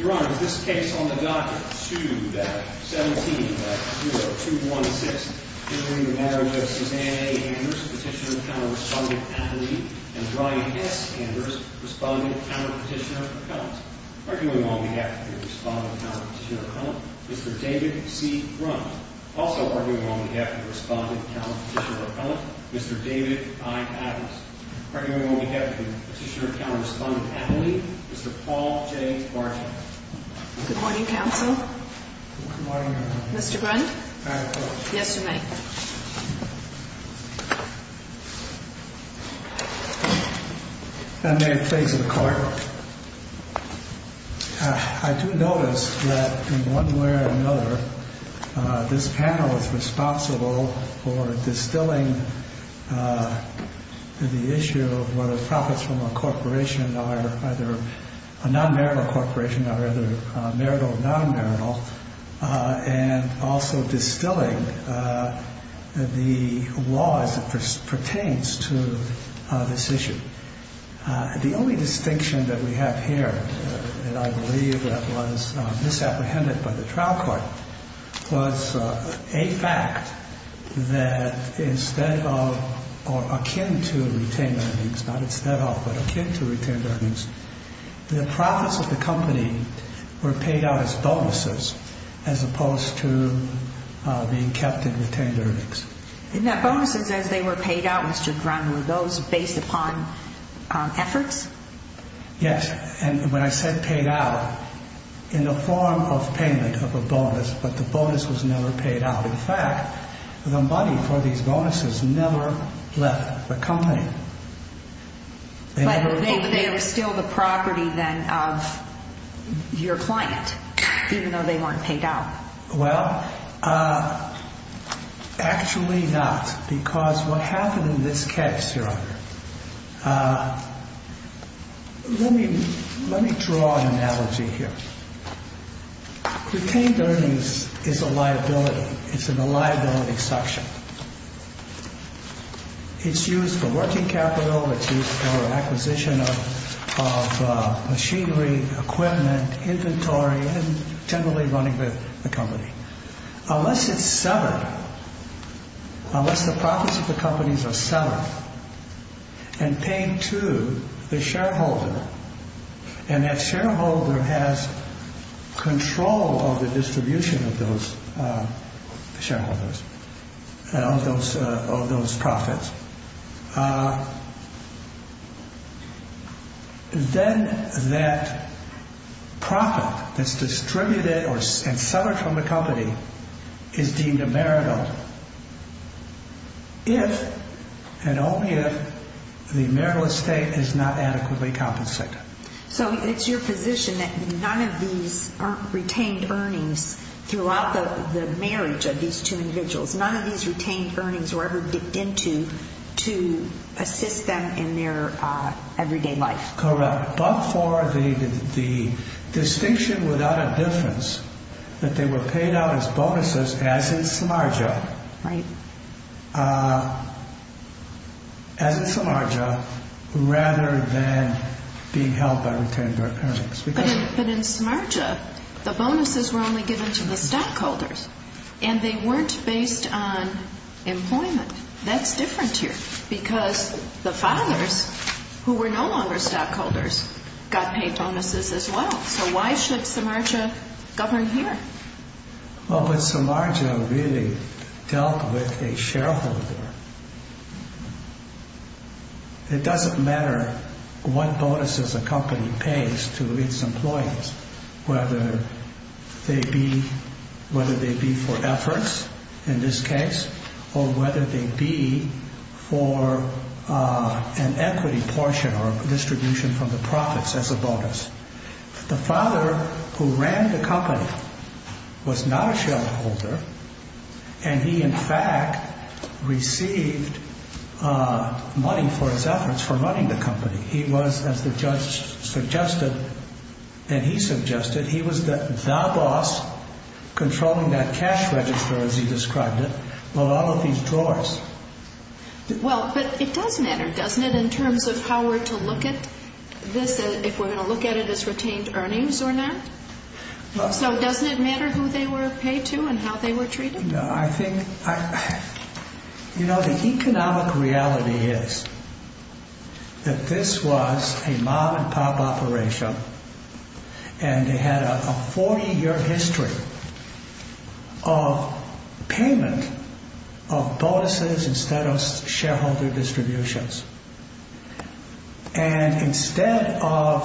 Your Honor, this case on the docket, 2-17-0216, is between the marriage of Suzanne A. Anders, Petitioner-Counter-Respondent-Appellee, and Brian S. Anders, Respondent-Counter-Petitioner-Appellant. Arguing on behalf of the Respondent-Counter-Petitioner-Appellant, Mr. David C. Brown. Also arguing on behalf of the Respondent-Counter-Petitioner-Appellant, Mr. David I. Adams. Arguing on behalf of the Petitioner-Counter-Respondent-Appellant, Mr. Paul J. Marshall. Good morning, Counsel. Good morning, Your Honor. Mr. Grund? I have a question. Yes, you may. I do notice that in one way or another, this panel is responsible for distilling the issue of whether profits from a corporation are either a non-marital corporation or either marital or non-marital, and also distilling the laws that pertains to this issue. The only distinction that we have here that I believe that was misapprehended by the trial court was a fact that instead of or akin to retained earnings, not instead of, but akin to retained earnings, the profits of the company were paid out as bonuses as opposed to being kept in retained earnings. Now bonuses as they were paid out, Mr. Grund, were those based upon efforts? Yes. And when I said paid out, in the form of payment of a bonus, but the bonus was never paid out. In fact, the money for these bonuses never left the company. But they were still the property then of your client, even though they weren't paid out. Well, actually not. Because what happened in this case, Your Honor, let me draw an analogy here. Retained earnings is a liability. It's in the liability section. It's used for working capital, it's used for acquisition of machinery, equipment, inventory, and generally running the company. Unless it's severed, unless the profits of the companies are severed and paid to the shareholder, and that shareholder has control of the distribution of those profits, then that profit that's distributed and severed from the company is deemed a marital if and only if the marital estate is not adequately compensated. So it's your position that none of these retained earnings throughout the marriage of these two individuals, none of these retained earnings were ever dipped into to assist them in their everyday life? Correct. But for the distinction without a difference that they were paid out as bonuses, as in Samarja, as in Samarja, rather than being held by retained earnings. But in Samarja, the bonuses were only given to the stockholders, and they weren't based on employment. That's different here, because the fathers, who were no longer stockholders, got paid bonuses as well. So why should Samarja govern here? Well, but Samarja really dealt with a shareholder. It doesn't matter what bonuses a company pays to its employees, whether they be for efforts, in this case, or whether they be for an equity portion or a distribution from the profits as a bonus. The father who ran the company was not a shareholder, and he, in fact, received money for his efforts for running the company. He was, as the judge suggested, and he suggested, he was the boss controlling that cash register, as he described it, with all of these drawers. Well, but it does matter, doesn't it, in terms of how we're to look at this, if we're going to look at it as retained earnings or not? So doesn't it matter who they were paid to and how they were treated? I think, you know, the economic reality is that this was a mom-and-pop operation, and they had a 40-year history of payment of bonuses instead of shareholder distributions. And instead of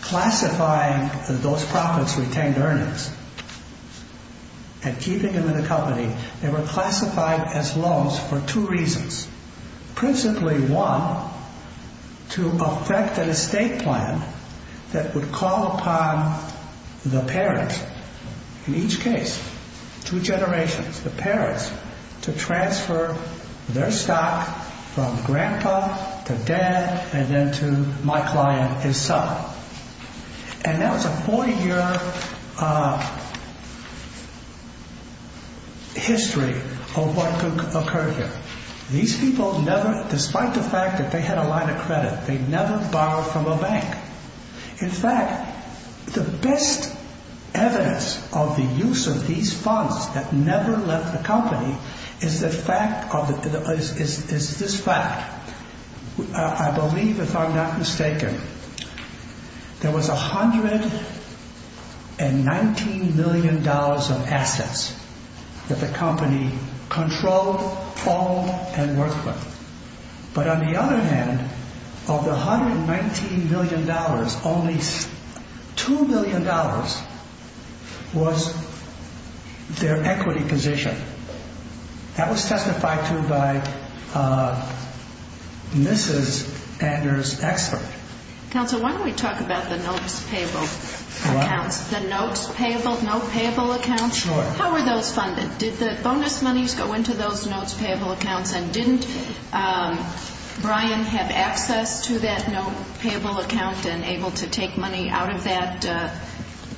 classifying those profits retained earnings and keeping them in the company, they were classified as loans for two reasons. Principally, one, to affect an estate plan that would call upon the parent, in each case, two generations, the parents, to transfer their stock from grandpa to dad and then to my client, his son. And that was a 40-year history of what occurred here. These people never, despite the fact that they had a line of credit, they never borrowed from a bank. In fact, the best evidence of the use of these funds that never left the company is this fact. I believe, if I'm not mistaken, there was $119 million of assets that the company controlled, owned, and worked with. But on the other hand, of the $119 million, only $2 million was their equity position. That was testified to by Mrs. Ander's expert. Counsel, why don't we talk about the notes payable accounts? The notes payable, note payable accounts? Sure. How were those funded? Did the bonus monies go into those notes payable accounts, and didn't Brian have access to that note payable account and able to take money out of that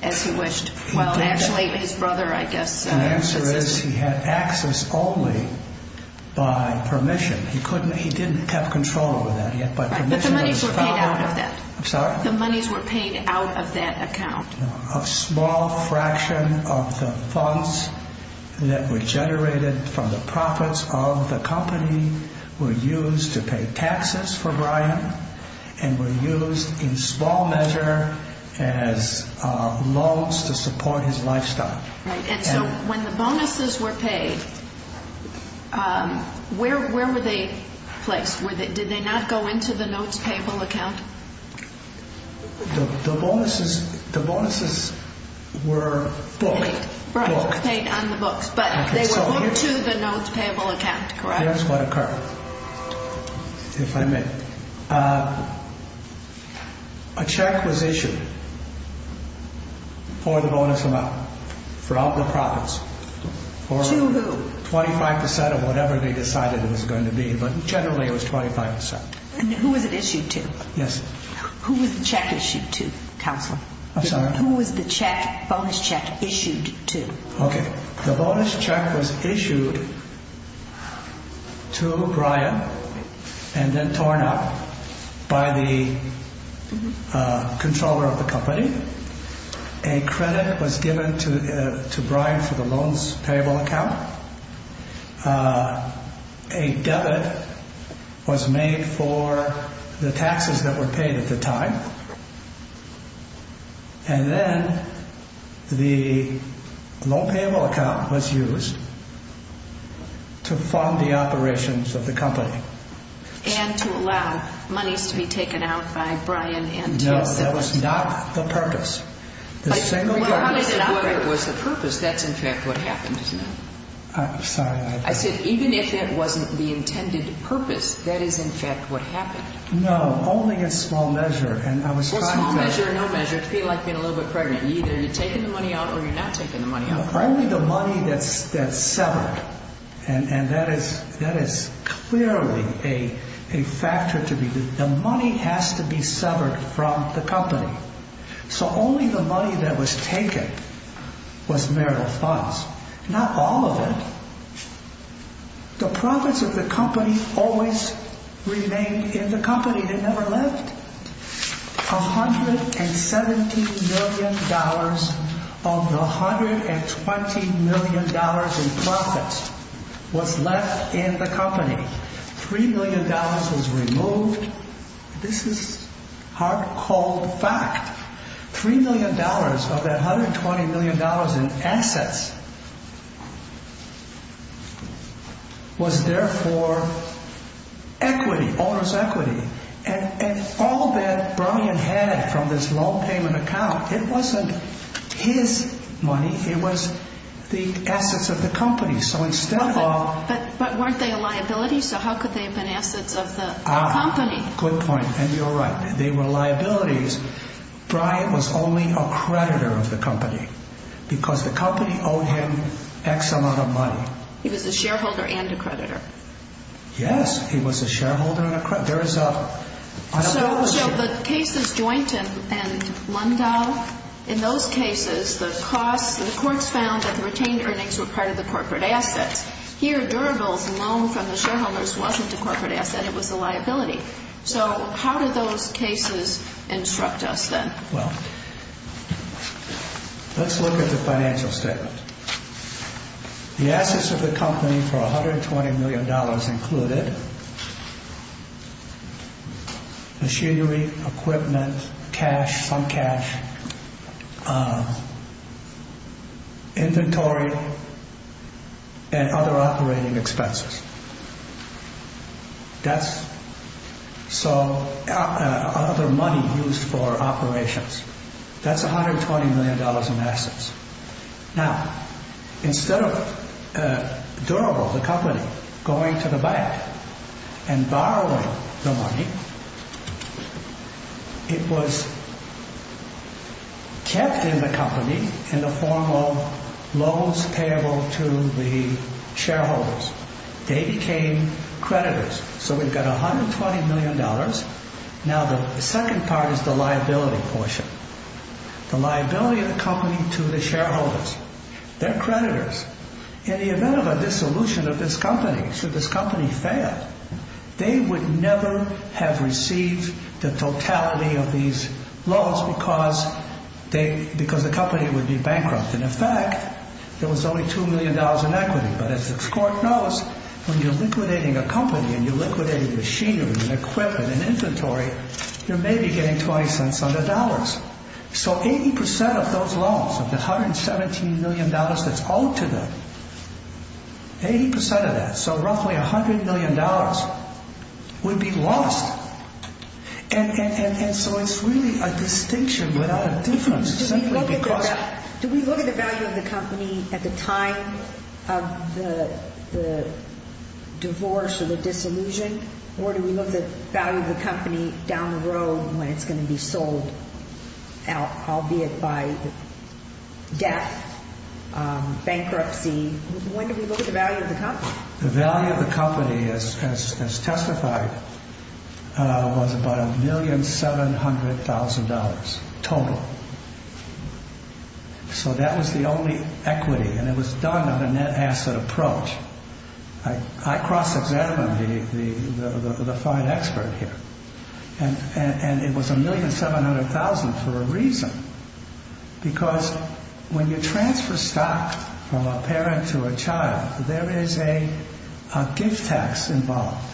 as he wished? Well, actually, his brother, I guess. The answer is he had access only by permission. He didn't have control over that. But the monies were paid out of that. I'm sorry? The monies were paid out of that account. A small fraction of the funds that were generated from the profits of the company were used to pay taxes for Brian and were used in small measure as loans to support his lifestyle. And so when the bonuses were paid, where were they placed? Did they not go into the notes payable account? The bonuses were booked. Paid on the books, but they were booked to the notes payable account, correct? Here's what occurred, if I may. A check was issued for the bonus amount, for all the profits. To who? 25% of whatever they decided it was going to be, but generally it was 25%. And who was it issued to? Yes. Who was the check issued to, Counselor? I'm sorry? Who was the check, bonus check issued to? Okay. The bonus check was issued to Brian and then torn up by the controller of the company. A credit was given to Brian for the loans payable account. A debit was made for the taxes that were paid at the time. And then the loan payable account was used to fund the operations of the company. And to allow monies to be taken out by Brian and to his siblings. But regardless of whether it was the purpose, that's in fact what happened, isn't it? I'm sorry. I said even if it wasn't the intended purpose, that is in fact what happened. No, only in small measure. Or small measure or no measure. It's a bit like being a little bit pregnant. Either you're taking the money out or you're not taking the money out. Only the money that's severed. And that is clearly a factor to be. The money has to be severed from the company. So only the money that was taken was marital funds. Not all of it. The profits of the company always remained in the company. They never left. $117 million of the $120 million in profits was left in the company. $3 million was removed. This is hard-cold fact. $3 million of that $120 million in assets was there for equity, owner's equity. And all that Brian had from this loan payment account, it wasn't his money. It was the assets of the company. But weren't they a liability? So how could they have been assets of the company? Good point. And you're right. They were liabilities. Brian was only a creditor of the company. Because the company owed him X amount of money. He was a shareholder and a creditor. Yes, he was a shareholder and a creditor. So the cases Joynton and Lundahl, in those cases, the costs, the courts found that the retained earnings were part of the corporate assets. Here, Durable's loan from the shareholders wasn't a corporate asset. It was a liability. So how did those cases instruct us then? Well, let's look at the financial statement. The assets of the company for $120 million included machinery, equipment, cash, some cash, inventory, and other operating expenses. That's other money used for operations. That's $120 million in assets. Now, instead of Durable, the company, going to the bank and borrowing the money, it was kept in the company in the form of loans payable to the shareholders. They became creditors. So we've got $120 million. Now, the second part is the liability portion. The liability of the company to the shareholders. They're creditors. In the event of a dissolution of this company, should this company fail, they would never have received the totality of these loans because the company would be bankrupt. And, in fact, there was only $2 million in equity. But as the court knows, when you're liquidating a company and you're liquidating machinery and equipment and inventory, you're maybe getting 20 cents on the dollars. So 80% of those loans, of the $117 million that's owed to them, 80% of that, so roughly $100 million, would be lost. And so it's really a distinction without a difference simply because. Do we look at the value of the company at the time of the divorce or the dissolution, or do we look at the value of the company down the road when it's going to be sold, albeit by death, bankruptcy? When do we look at the value of the company? The value of the company, as testified, was about $1,700,000 total. So that was the only equity, and it was done on a net asset approach. I cross-examined the fine expert here, and it was $1,700,000 for a reason. Because when you transfer stock from a parent to a child, there is a gift tax involved.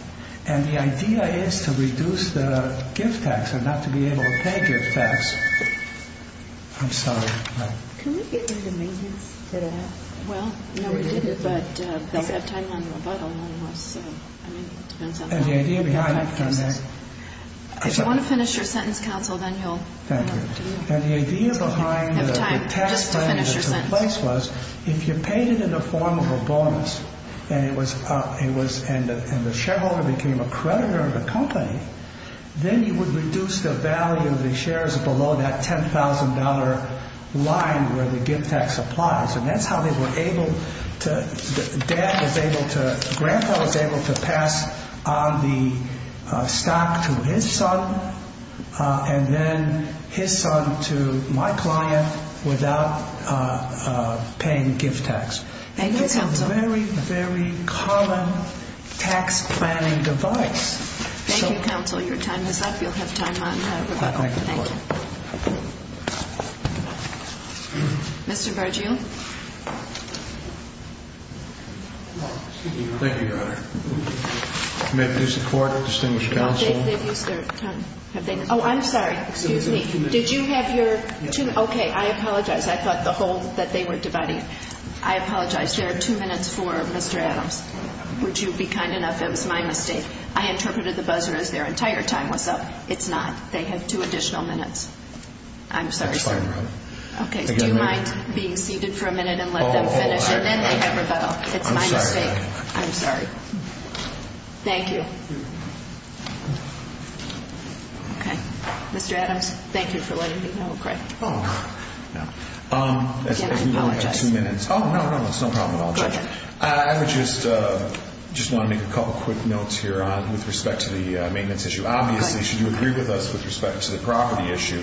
And the idea is to reduce the gift tax and not to be able to pay gift tax. I'm sorry. Can we get into maintenance today? Well, no, we didn't, but we still have time on the rebuttal. And the idea behind it is... If you want to finish your sentence, counsel, then you'll... And the idea behind the tax plan that took place was if you paid it in the form of a bonus and the shareholder became a creditor of the company, then you would reduce the value of the shares below that $10,000 line where the gift tax applies. And that's how they were able to... Dad was able to... to my client without paying gift tax. Thank you, counsel. It's a very, very common tax planning device. Thank you, counsel. Your time is up. You'll have time on rebuttal. Thank you. Mr. Bargill. Thank you, Your Honor. May I produce a court? Distinguished counsel. They've used their time. Oh, I'm sorry. Excuse me. Did you have your... Okay, I apologize. I thought the whole... that they were dividing. I apologize. There are two minutes for Mr. Adams. Would you be kind enough? It was my mistake. I interpreted the buzzer as their entire time was up. It's not. They have two additional minutes. I'm sorry, sir. That's fine, Your Honor. Okay. Do you mind being seated for a minute and let them finish? And then they have rebuttal. It's my mistake. I'm sorry. Thank you. Okay. Mr. Adams, thank you for letting me know. Craig. Oh, no. No. Again, I apologize. As we've only got two minutes. Oh, no, no. It's no problem at all, Judge. Go ahead. I would just want to make a couple quick notes here with respect to the maintenance issue. Obviously, should you agree with us with respect to the property issue,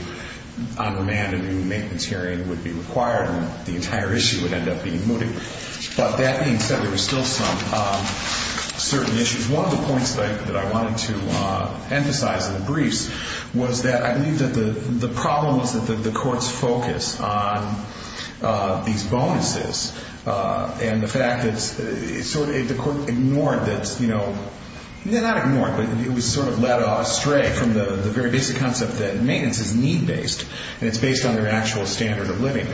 on demand a new maintenance hearing would be required and the entire issue would end up being mooted. But that being said, there are still some certain issues. One of the points that I wanted to emphasize in the briefs was that I believe that the problem is that the courts focus on these bonuses and the fact that it's sort of ignored that's, you know, not ignored, but it was sort of led astray from the very basic concept that maintenance is need-based and it's based on their actual standard of living.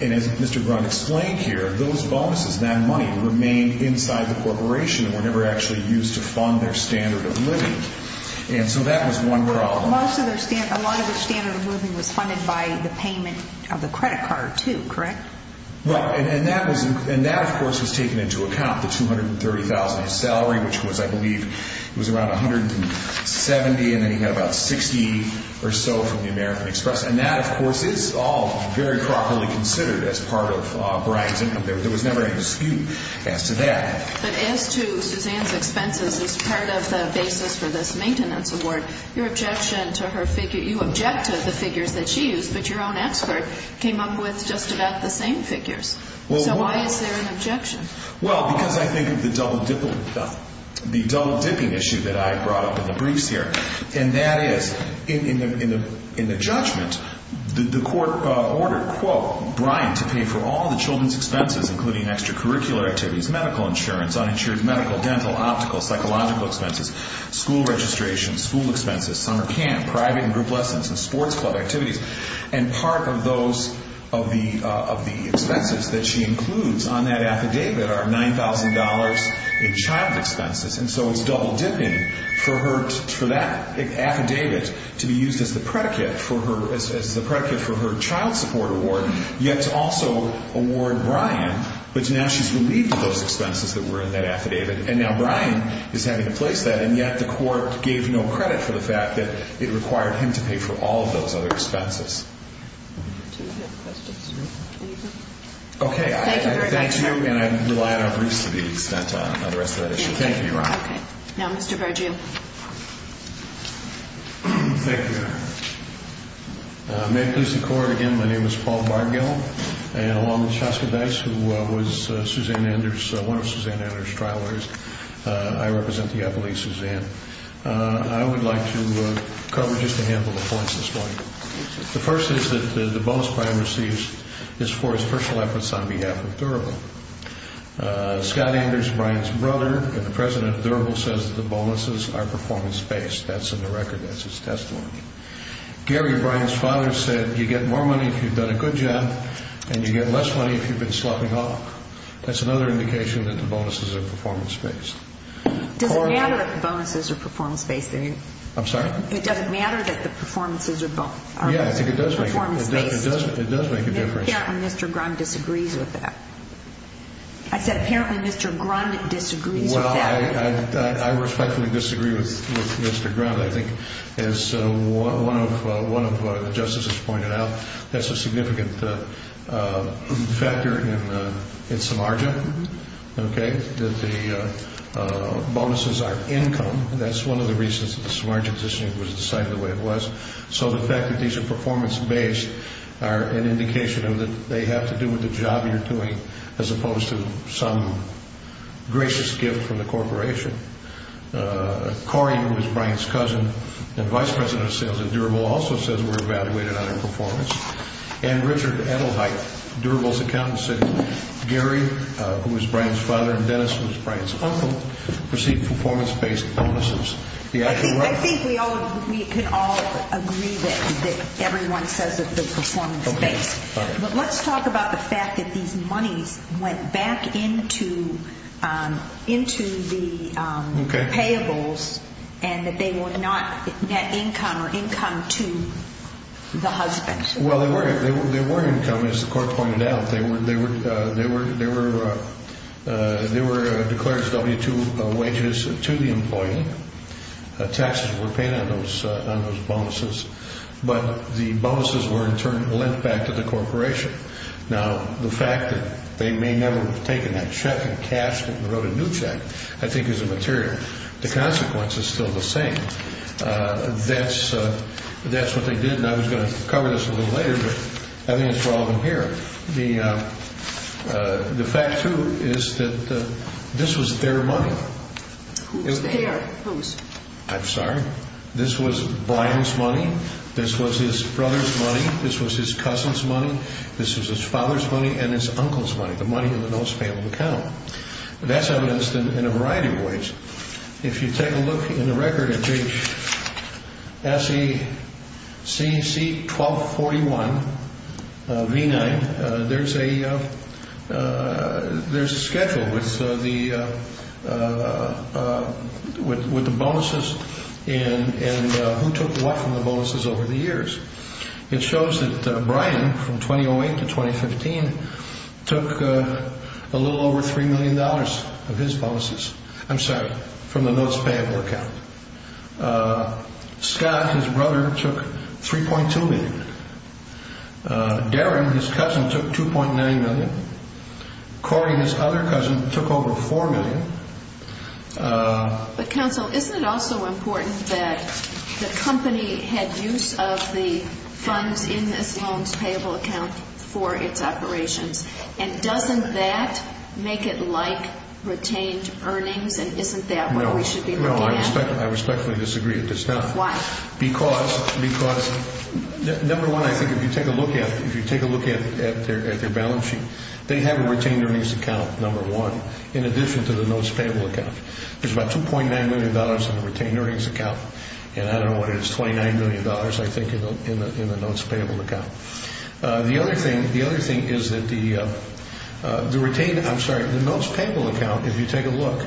And as Mr. Grunt explained here, those bonuses, that money, remain inside the corporation and were never actually used to fund their standard of living. And so that was one problem. A lot of their standard of living was funded by the payment of the credit card, too, correct? Right. And that, of course, was taken into account, the $230,000 in salary, which was, I believe, it was around $170,000, and then you had about $60,000 or so from the American Express. And that, of course, is all very properly considered as part of Brian's income. There was never any skew as to that. But as to Suzanne's expenses as part of the basis for this maintenance award, your objection to her figure, you object to the figures that she used, but your own expert came up with just about the same figures. So why is there an objection? Well, because I think of the double-dipping issue that I brought up in the briefs here, and that is, in the judgment, the court ordered, quote, for Brian to pay for all the children's expenses, including extracurricular activities, medical insurance, uninsured medical, dental, optical, psychological expenses, school registration, school expenses, summer camp, private and group lessons, and sports club activities. And part of those of the expenses that she includes on that affidavit are $9,000 in child expenses. And so it's double-dipping for that affidavit to be used as the predicate for her child support award, yet to also award Brian, but now she's relieved of those expenses that were in that affidavit. And now Brian is having to place that, and yet the court gave no credit for the fact that it required him to pay for all of those other expenses. Do we have questions? Okay. Thank you very much, Your Honor. I thank you, and I rely on our briefs to the extent of the rest of that issue. Thank you, Your Honor. Okay. Now Mr. Bergio. Thank you, Your Honor. May it please the Court, again, my name is Paul Bergio, and along with Shoska Dice, who was one of Suzanne Anders' trial lawyers, I represent the appellee, Suzanne. I would like to cover just a handful of points this morning. The first is that the bonus Brian receives is for his personal efforts on behalf of Durable. Scott Anders, Brian's brother, and the president of Durable, says that the bonuses are performance-based. That's in the record. That's his testimony. Gary, Brian's father, said you get more money if you've done a good job, and you get less money if you've been slopping off. That's another indication that the bonuses are performance-based. Does it matter if the bonuses are performance-based? I'm sorry? It doesn't matter that the performances are performance-based? It does make a difference. Apparently Mr. Grund disagrees with that. I said apparently Mr. Grund disagrees with that. Well, I respectfully disagree with Mr. Grund. I think as one of the justices pointed out, that's a significant factor in Samarja, okay, that the bonuses are income. That's one of the reasons that the Samarja positioning was decided the way it was. So the fact that these are performance-based are an indication that they have to do with the job you're doing as opposed to some gracious gift from the corporation. Cory, who is Brian's cousin and vice president of sales at Durable, also says we're evaluated on their performance. And Richard Edelheit, Durable's accountant, said Gary, who is Brian's father, and Dennis, who is Brian's uncle, perceive performance-based bonuses. I think we can all agree that everyone says that they're performance-based. But let's talk about the fact that these monies went back into the payables and that they were not net income or income to the husband. Well, they were income, as the court pointed out. They were declared W-2 wages to the employee. Taxes were paid on those bonuses. But the bonuses were, in turn, lent back to the corporation. Now, the fact that they may never have taken that check and cashed it and wrote a new check, I think, is immaterial. The consequence is still the same. That's what they did. And I was going to cover this a little later, but I think it's relevant here. The fact, too, is that this was their money. Whose? I'm sorry? This was Brian's money. This was his brother's money. This was his cousin's money. This was his father's money and his uncle's money, the money in the most payable account. If you take a look in the record at the SEC 1241 V-9, there's a schedule with the bonuses and who took what from the bonuses over the years. It shows that Brian from 2008 to 2015 took a little over $3 million of his bonuses. I'm sorry, from the most payable account. Scott, his brother, took $3.2 million. Darren, his cousin, took $2.9 million. Cory, his other cousin, took over $4 million. But, counsel, isn't it also important that the company had use of the funds in this loan's payable account for its operations? And doesn't that make it like retained earnings, and isn't that what we should be looking at? No, I respectfully disagree with this. Why? Because, number one, I think if you take a look at their balance sheet, they have a retained earnings account, number one, in addition to the most payable account. There's about $2.9 million in the retained earnings account, and I don't know what it is, $29 million, I think, in the most payable account. The other thing is that the retained, I'm sorry, the most payable account, if you take a look,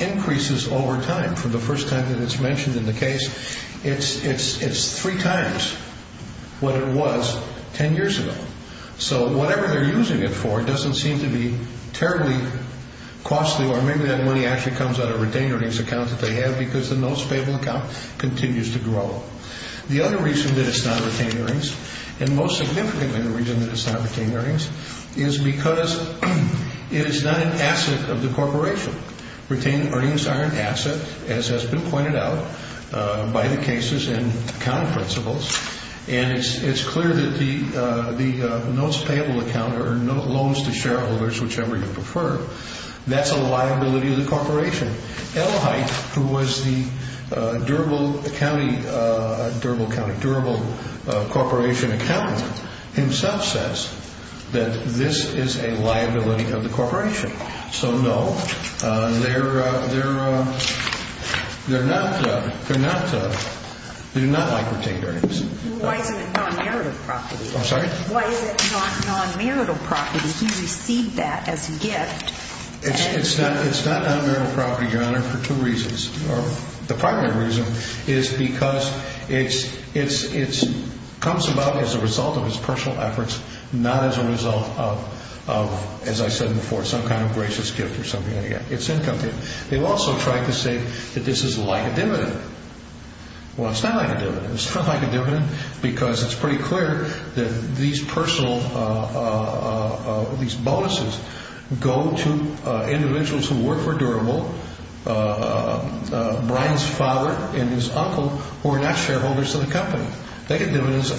increases over time. From the first time that it's mentioned in the case, it's three times what it was ten years ago. So whatever they're using it for doesn't seem to be terribly costly, or maybe that money actually comes out of a retained earnings account that they have because the most payable account continues to grow. The other reason that it's not retained earnings, and most significantly the reason that it's not retained earnings, is because it is not an asset of the corporation. Retained earnings are an asset, as has been pointed out by the cases and accounting principles, and it's clear that the most payable account or loans to shareholders, whichever you prefer, that's a liability of the corporation. Elhite, who was the Durable Corporation accountant, himself says that this is a liability of the corporation. So no, they're not like retained earnings. Why is it non-marital property? I'm sorry? Why is it non-marital property? He received that as a gift. It's not non-marital property, Your Honor, for two reasons. The primary reason is because it comes about as a result of his personal efforts, not as a result of, as I said before, some kind of gracious gift or something like that. It's income. They've also tried to say that this is like a dividend. Well, it's not like a dividend. It's not like a dividend because it's pretty clear that these bonuses go to individuals who work for Durable, Brian's father and his uncle, who are not shareholders of the company. They get bonuses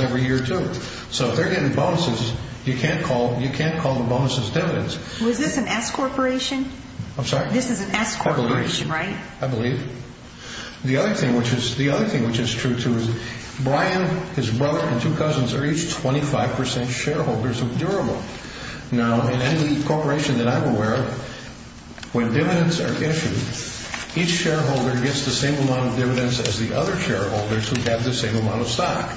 every year, too. So if they're getting bonuses, you can't call the bonuses dividends. Was this an S corporation? I'm sorry? This is an S corporation, right? I believe. The other thing which is true, too, is Brian, his brother and two cousins are each 25% shareholders of Durable. Now, in any corporation that I'm aware of, when dividends are issued, each shareholder gets the same amount of dividends as the other shareholders who get the same amount of stock.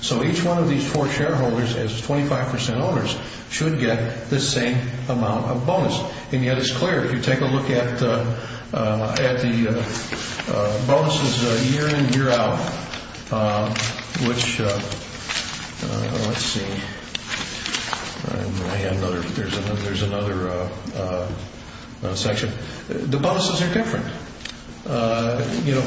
So each one of these four shareholders, as 25% owners, should get the same amount of bonus. And yet it's clear. If you take a look at the bonuses year in, year out, which, let's see, there's another section. The bonuses are different. You know,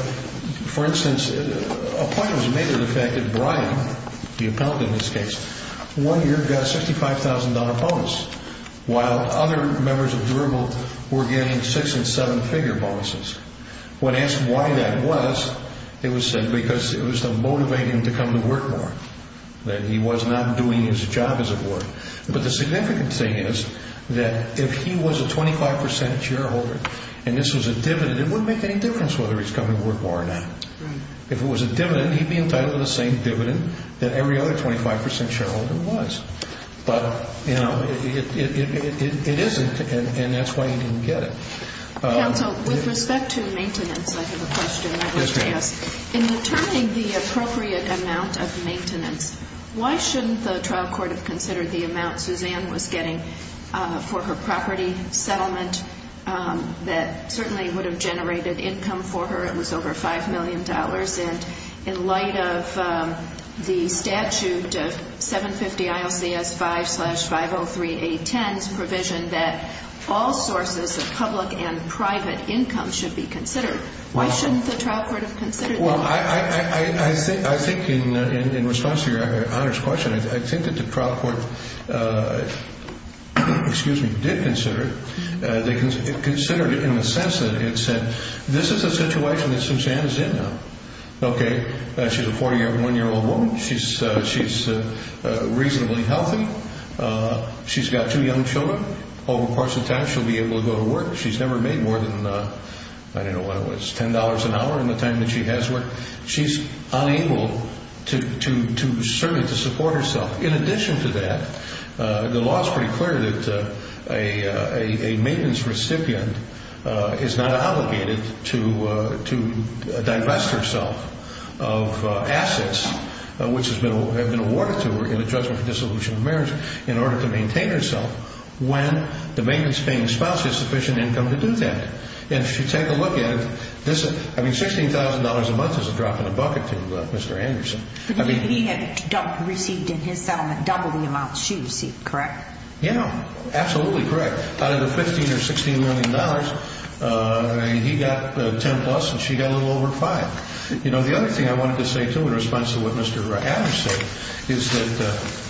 for instance, a point was made of the fact that Brian, the appellate in this case, one year got a $65,000 bonus while other members of Durable were getting six and seven figure bonuses. When asked why that was, it was said because it was to motivate him to come to work more, that he was not doing his job as it were. But the significant thing is that if he was a 25% shareholder and this was a dividend, it wouldn't make any difference whether he's coming to work more or not. If it was a dividend, he'd be entitled to the same dividend that every other 25% shareholder was. But, you know, it isn't, and that's why he didn't get it. Counsel, with respect to maintenance, I have a question I want to ask. In returning the appropriate amount of maintenance, why shouldn't the trial court have considered the amount Suzanne was getting for her property settlement that certainly would have generated income for her? It was over $5 million. And in light of the statute of 750 ILCS 5-503810's provision Why shouldn't the trial court have considered that? Well, I think in response to your honor's question, I think that the trial court, excuse me, did consider it. They considered it in the sense that it said this is a situation that Suzanne is in now. Okay, she's a 41-year-old woman. She's reasonably healthy. She's got two young children. Over the course of time, she'll be able to go to work. She's never made more than, I don't know what it was, $10 an hour in the time that she has worked. She's unable to serve and to support herself. In addition to that, the law is pretty clear that a maintenance recipient is not obligated to divest herself of assets which have been awarded to her in the judgment for dissolution of marriage in order to maintain herself when the maintenance-paying spouse has sufficient income to do that. If you take a look at it, $16,000 a month is a drop in the bucket to Mr. Anderson. He had received in his settlement double the amount she received, correct? Yeah, absolutely correct. Out of the $15 or $16 million, he got 10-plus and she got a little over 5. The other thing I wanted to say, too, in response to what Mr. Adams said, is that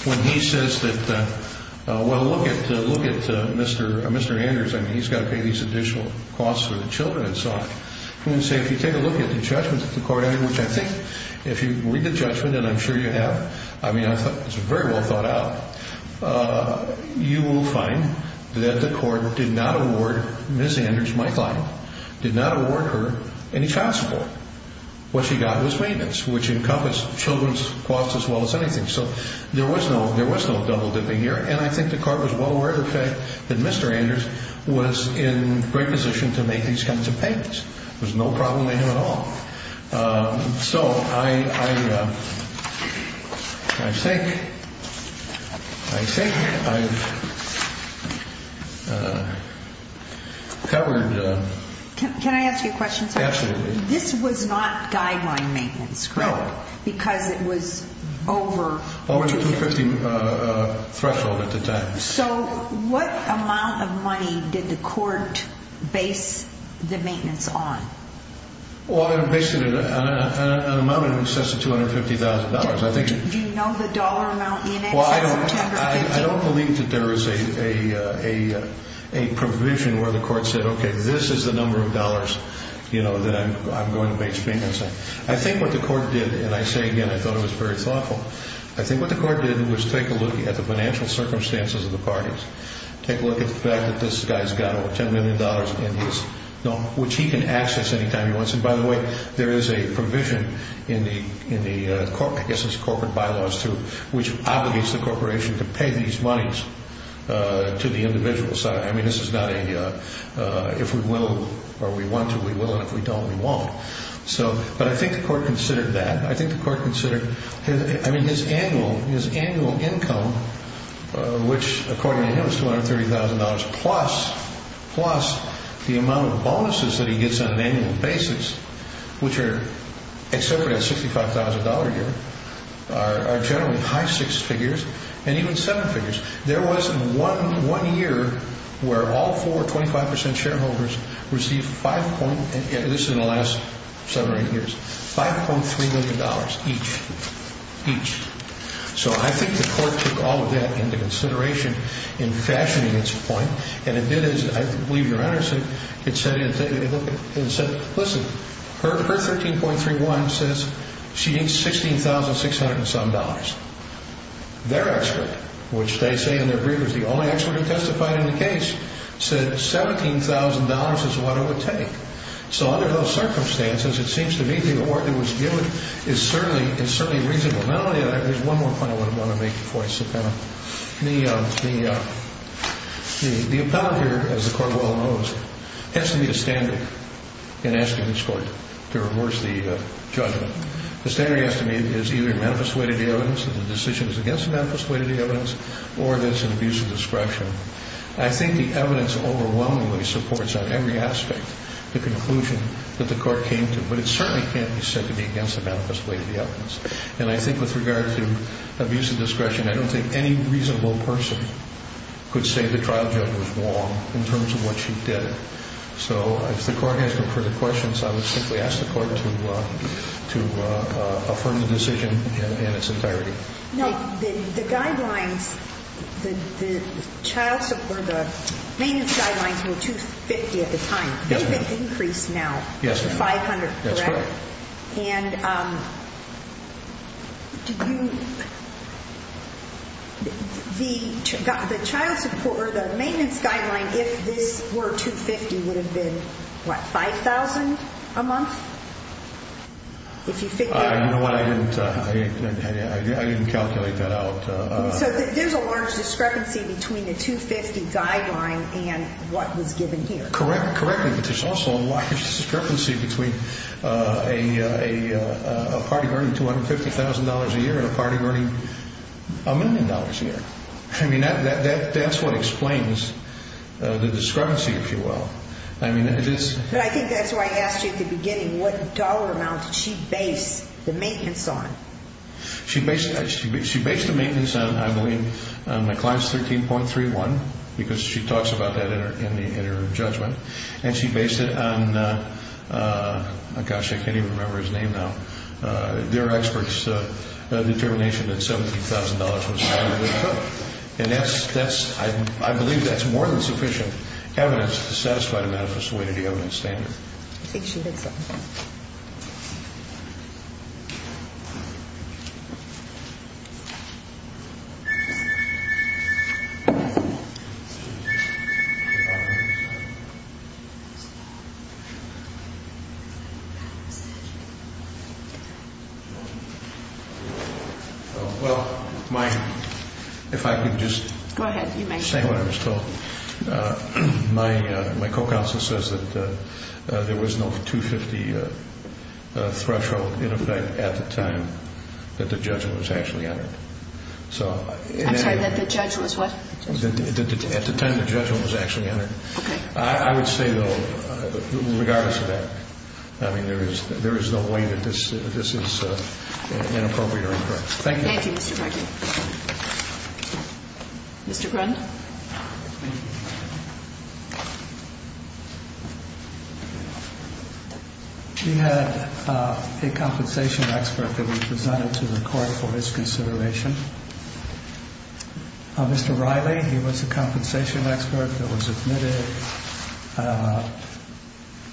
when he says that, well, look at Mr. Anderson. He's got to pay these additional costs for the children and so on. If you take a look at the judgment of the court, which I think if you read the judgment, and I'm sure you have, I mean, it's very well thought out. You will find that the court did not award Ms. Anders, my client, did not award her any child support. What she got was maintenance, which encompassed children's costs as well as anything. So there was no double-dipping here. And I think the court was well aware of the fact that Mr. Anders was in great position to make these kinds of payments. There was no problem with him at all. So I think I've covered... Can I ask you a question, sir? Absolutely. This was not guideline maintenance, correct? No. Because it was over... Over the 250 threshold at the time. So what amount of money did the court base the maintenance on? Well, basically an amount in excess of $250,000. Do you know the dollar amount in excess of $250,000? Well, I don't believe that there is a provision where the court said, okay, this is the number of dollars that I'm going to be expensing. I think what the court did, and I say again, I thought it was very thoughtful, I think what the court did was take a look at the financial circumstances of the parties, take a look at the fact that this guy's got over $10 million in his... which he can access any time he wants. And by the way, there is a provision in the corporate bylaws which obligates the corporation to pay these monies to the individuals. I mean, this is not a if we will or we want to, we will, and if we don't, we won't. But I think the court considered that. I mean, his annual income, which according to him is $230,000, plus the amount of bonuses that he gets on an annual basis, which are accepted at $65,000 a year, are generally high six figures and even seven figures. There wasn't one year where all four 25% shareholders received 5. This is in the last seven or eight years, $5.3 million each, each. So I think the court took all of that into consideration in fashioning its point, and it did as I believe your Honor said, it said, listen, her $13.31 says she needs $16,600 and some dollars. Their expert, which they say in their brief was the only expert who testified in the case, said $17,000 is what it would take. So under those circumstances, it seems to me the award that was given is certainly reasonable. Now, there's one more point I want to make before I sit down. The appellate here, as the court well knows, has to meet a standard in asking this court to reverse the judgment. The standard has to meet is either manifest way to the evidence, the decision is against the manifest way to the evidence, or there's an abuse of discretion. I think the evidence overwhelmingly supports on every aspect the conclusion that the court came to, but it certainly can't be said to be against the manifest way to the evidence. And I think with regard to abuse of discretion, I don't think any reasonable person could say the trial judge was wrong in terms of what she did. So if the court has no further questions, I would simply ask the court to affirm the decision in its entirety. The maintenance guidelines were $250,000 at the time. There's an increase now to $500,000, correct? That's correct. And the maintenance guideline, if this were $250,000, would have been what, $5,000 a month? I didn't calculate that out. So there's a large discrepancy between the $250,000 guideline and what was given here. Correct. But there's also a large discrepancy between a party earning $250,000 a year and a party earning a million dollars a year. I mean, that's what explains the discrepancy, if you will. But I think that's why I asked you at the beginning, what dollar amount did she base the maintenance on? She based the maintenance on, I believe, McLean's 13.31, because she talks about that in her judgment. And she based it on, gosh, I can't even remember his name now. Their expert's determination that $17,000 was not a good cut. And that's, I believe, that's more than sufficient evidence to satisfy the manifest way to the evidence standard. I think she did something. Well, if I could just say what I was told. My co-counsel says that there was no $250,000 threshold in effect at the time that the judgment was actually entered. I'm sorry, that the judgment was what? At the time the judgment was actually entered. Okay. I would say, though, regardless of that, I mean, there is no way that this is inappropriate or incorrect. Thank you. Thank you, Mr. Duggan. Mr. Grund? We had a compensation expert that was presented to the court for his consideration. Mr. Riley, he was a compensation expert that was admitted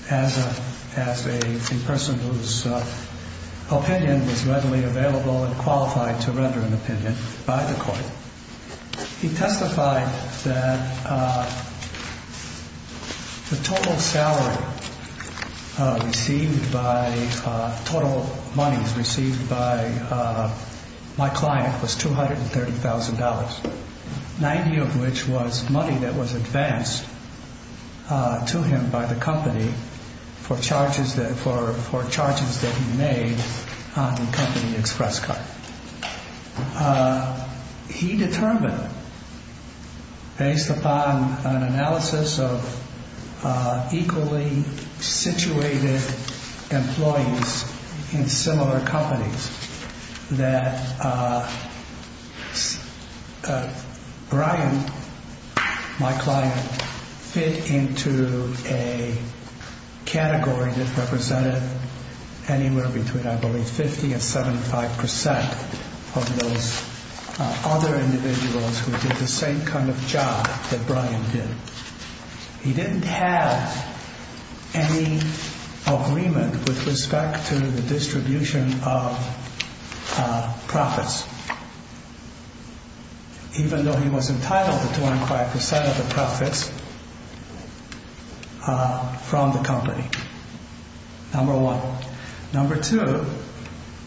as a person whose opinion was readily available and qualified to render an opinion by the court. He testified that the total salary received by, total monies received by my client was $230,000, 90 of which was money that was advanced to him by the company for charges that he made on the company express card. He determined, based upon an analysis of equally situated employees in similar companies, that Brian, my client, fit into a category that represented anywhere between, I believe, 50 and 75 percent of those other individuals who did the same kind of job that Brian did. He didn't have any agreement with respect to the distribution of profits, even though he was entitled to 25 percent of the profits from the company. Number one. Number two,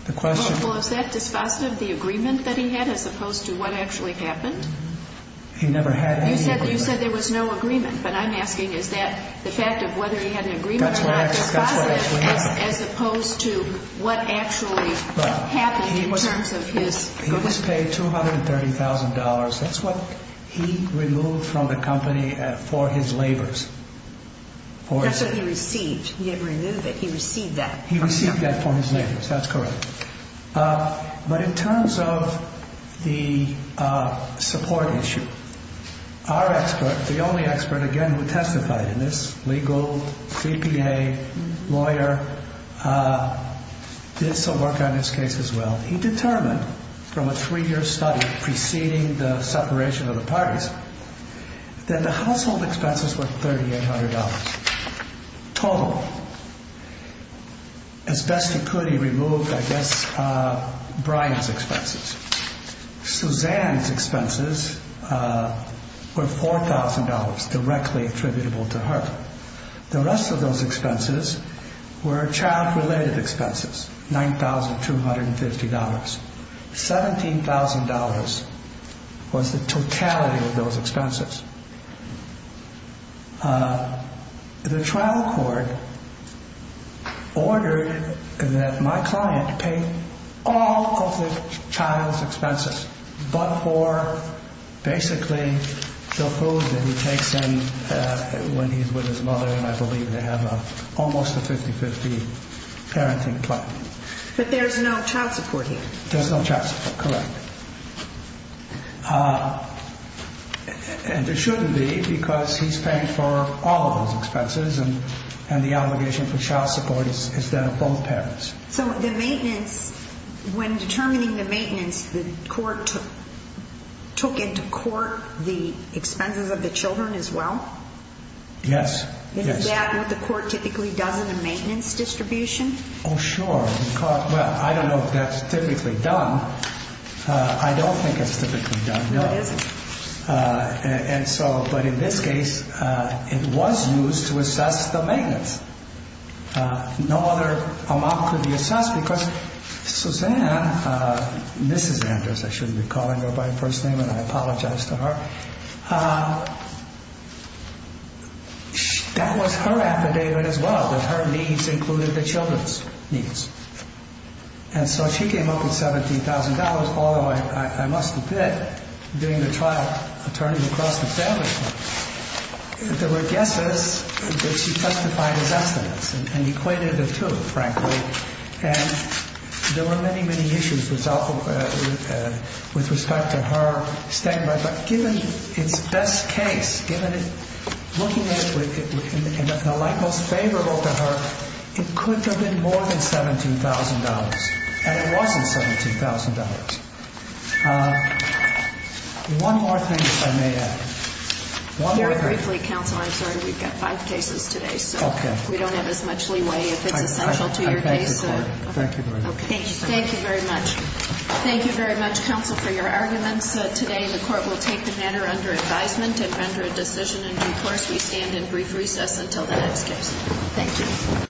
the question... Well, is that dispositive, the agreement that he had, as opposed to what actually happened? He never had any agreement. You said there was no agreement, but I'm asking, is that the fact of whether he had an agreement or not dispositive, as opposed to what actually happened in terms of his... He was paid $230,000. That's what he removed from the company for his labors. That's what he received. He didn't remove it. He received that. He received that for his labors. That's correct. But in terms of the support issue, our expert, the only expert, again, who testified in this, legal, CPA, lawyer, did some work on this case as well. He determined from a three-year study preceding the separation of the parties that the household expenses were $3,800 total. As best he could, he removed, I guess, Brian's expenses. Suzanne's expenses were $4,000 directly attributable to her. The rest of those expenses were child-related expenses, $9,250. $17,000 was the totality of those expenses. The trial court ordered that my client pay all of the child's expenses, but for basically the food that he takes in when he's with his mother, and I believe they have almost a 50-50 parenting plan. But there's no child support here. There's no child support, correct. And there shouldn't be because he's paying for all of those expenses, and the obligation for child support is that of both parents. So the maintenance, when determining the maintenance, the court took into court the expenses of the children as well? Yes. Is that what the court typically does in a maintenance distribution? Oh, sure. Well, I don't know if that's typically done. I don't think it's typically done, no. No, it isn't. And so, but in this case, it was used to assess the maintenance. No other amount could be assessed because Suzanne, Mrs. Andrews, I shouldn't be calling her by her first name, and I apologize to her. That was her affidavit as well, that her needs included the children's needs. And so she came up with $17,000, although I must admit, during the trial, attorneys across the family, there were guesses that she testified as estimates and equated the two, frankly. And there were many, many issues with respect to her statement. But given its best case, given looking at it in the light most favorable to her, it could have been more than $17,000, and it wasn't $17,000. One more thing, if I may add. Very briefly, counsel, I'm sorry, we've got five cases today. Okay. We don't have as much leeway if it's essential to your case. I thank the court. Thank you very much. Thank you very much. Thank you very much, counsel, for your arguments today. The court will take the matter under advisement and render a decision in due course. We stand in brief recess until the next case. Thank you.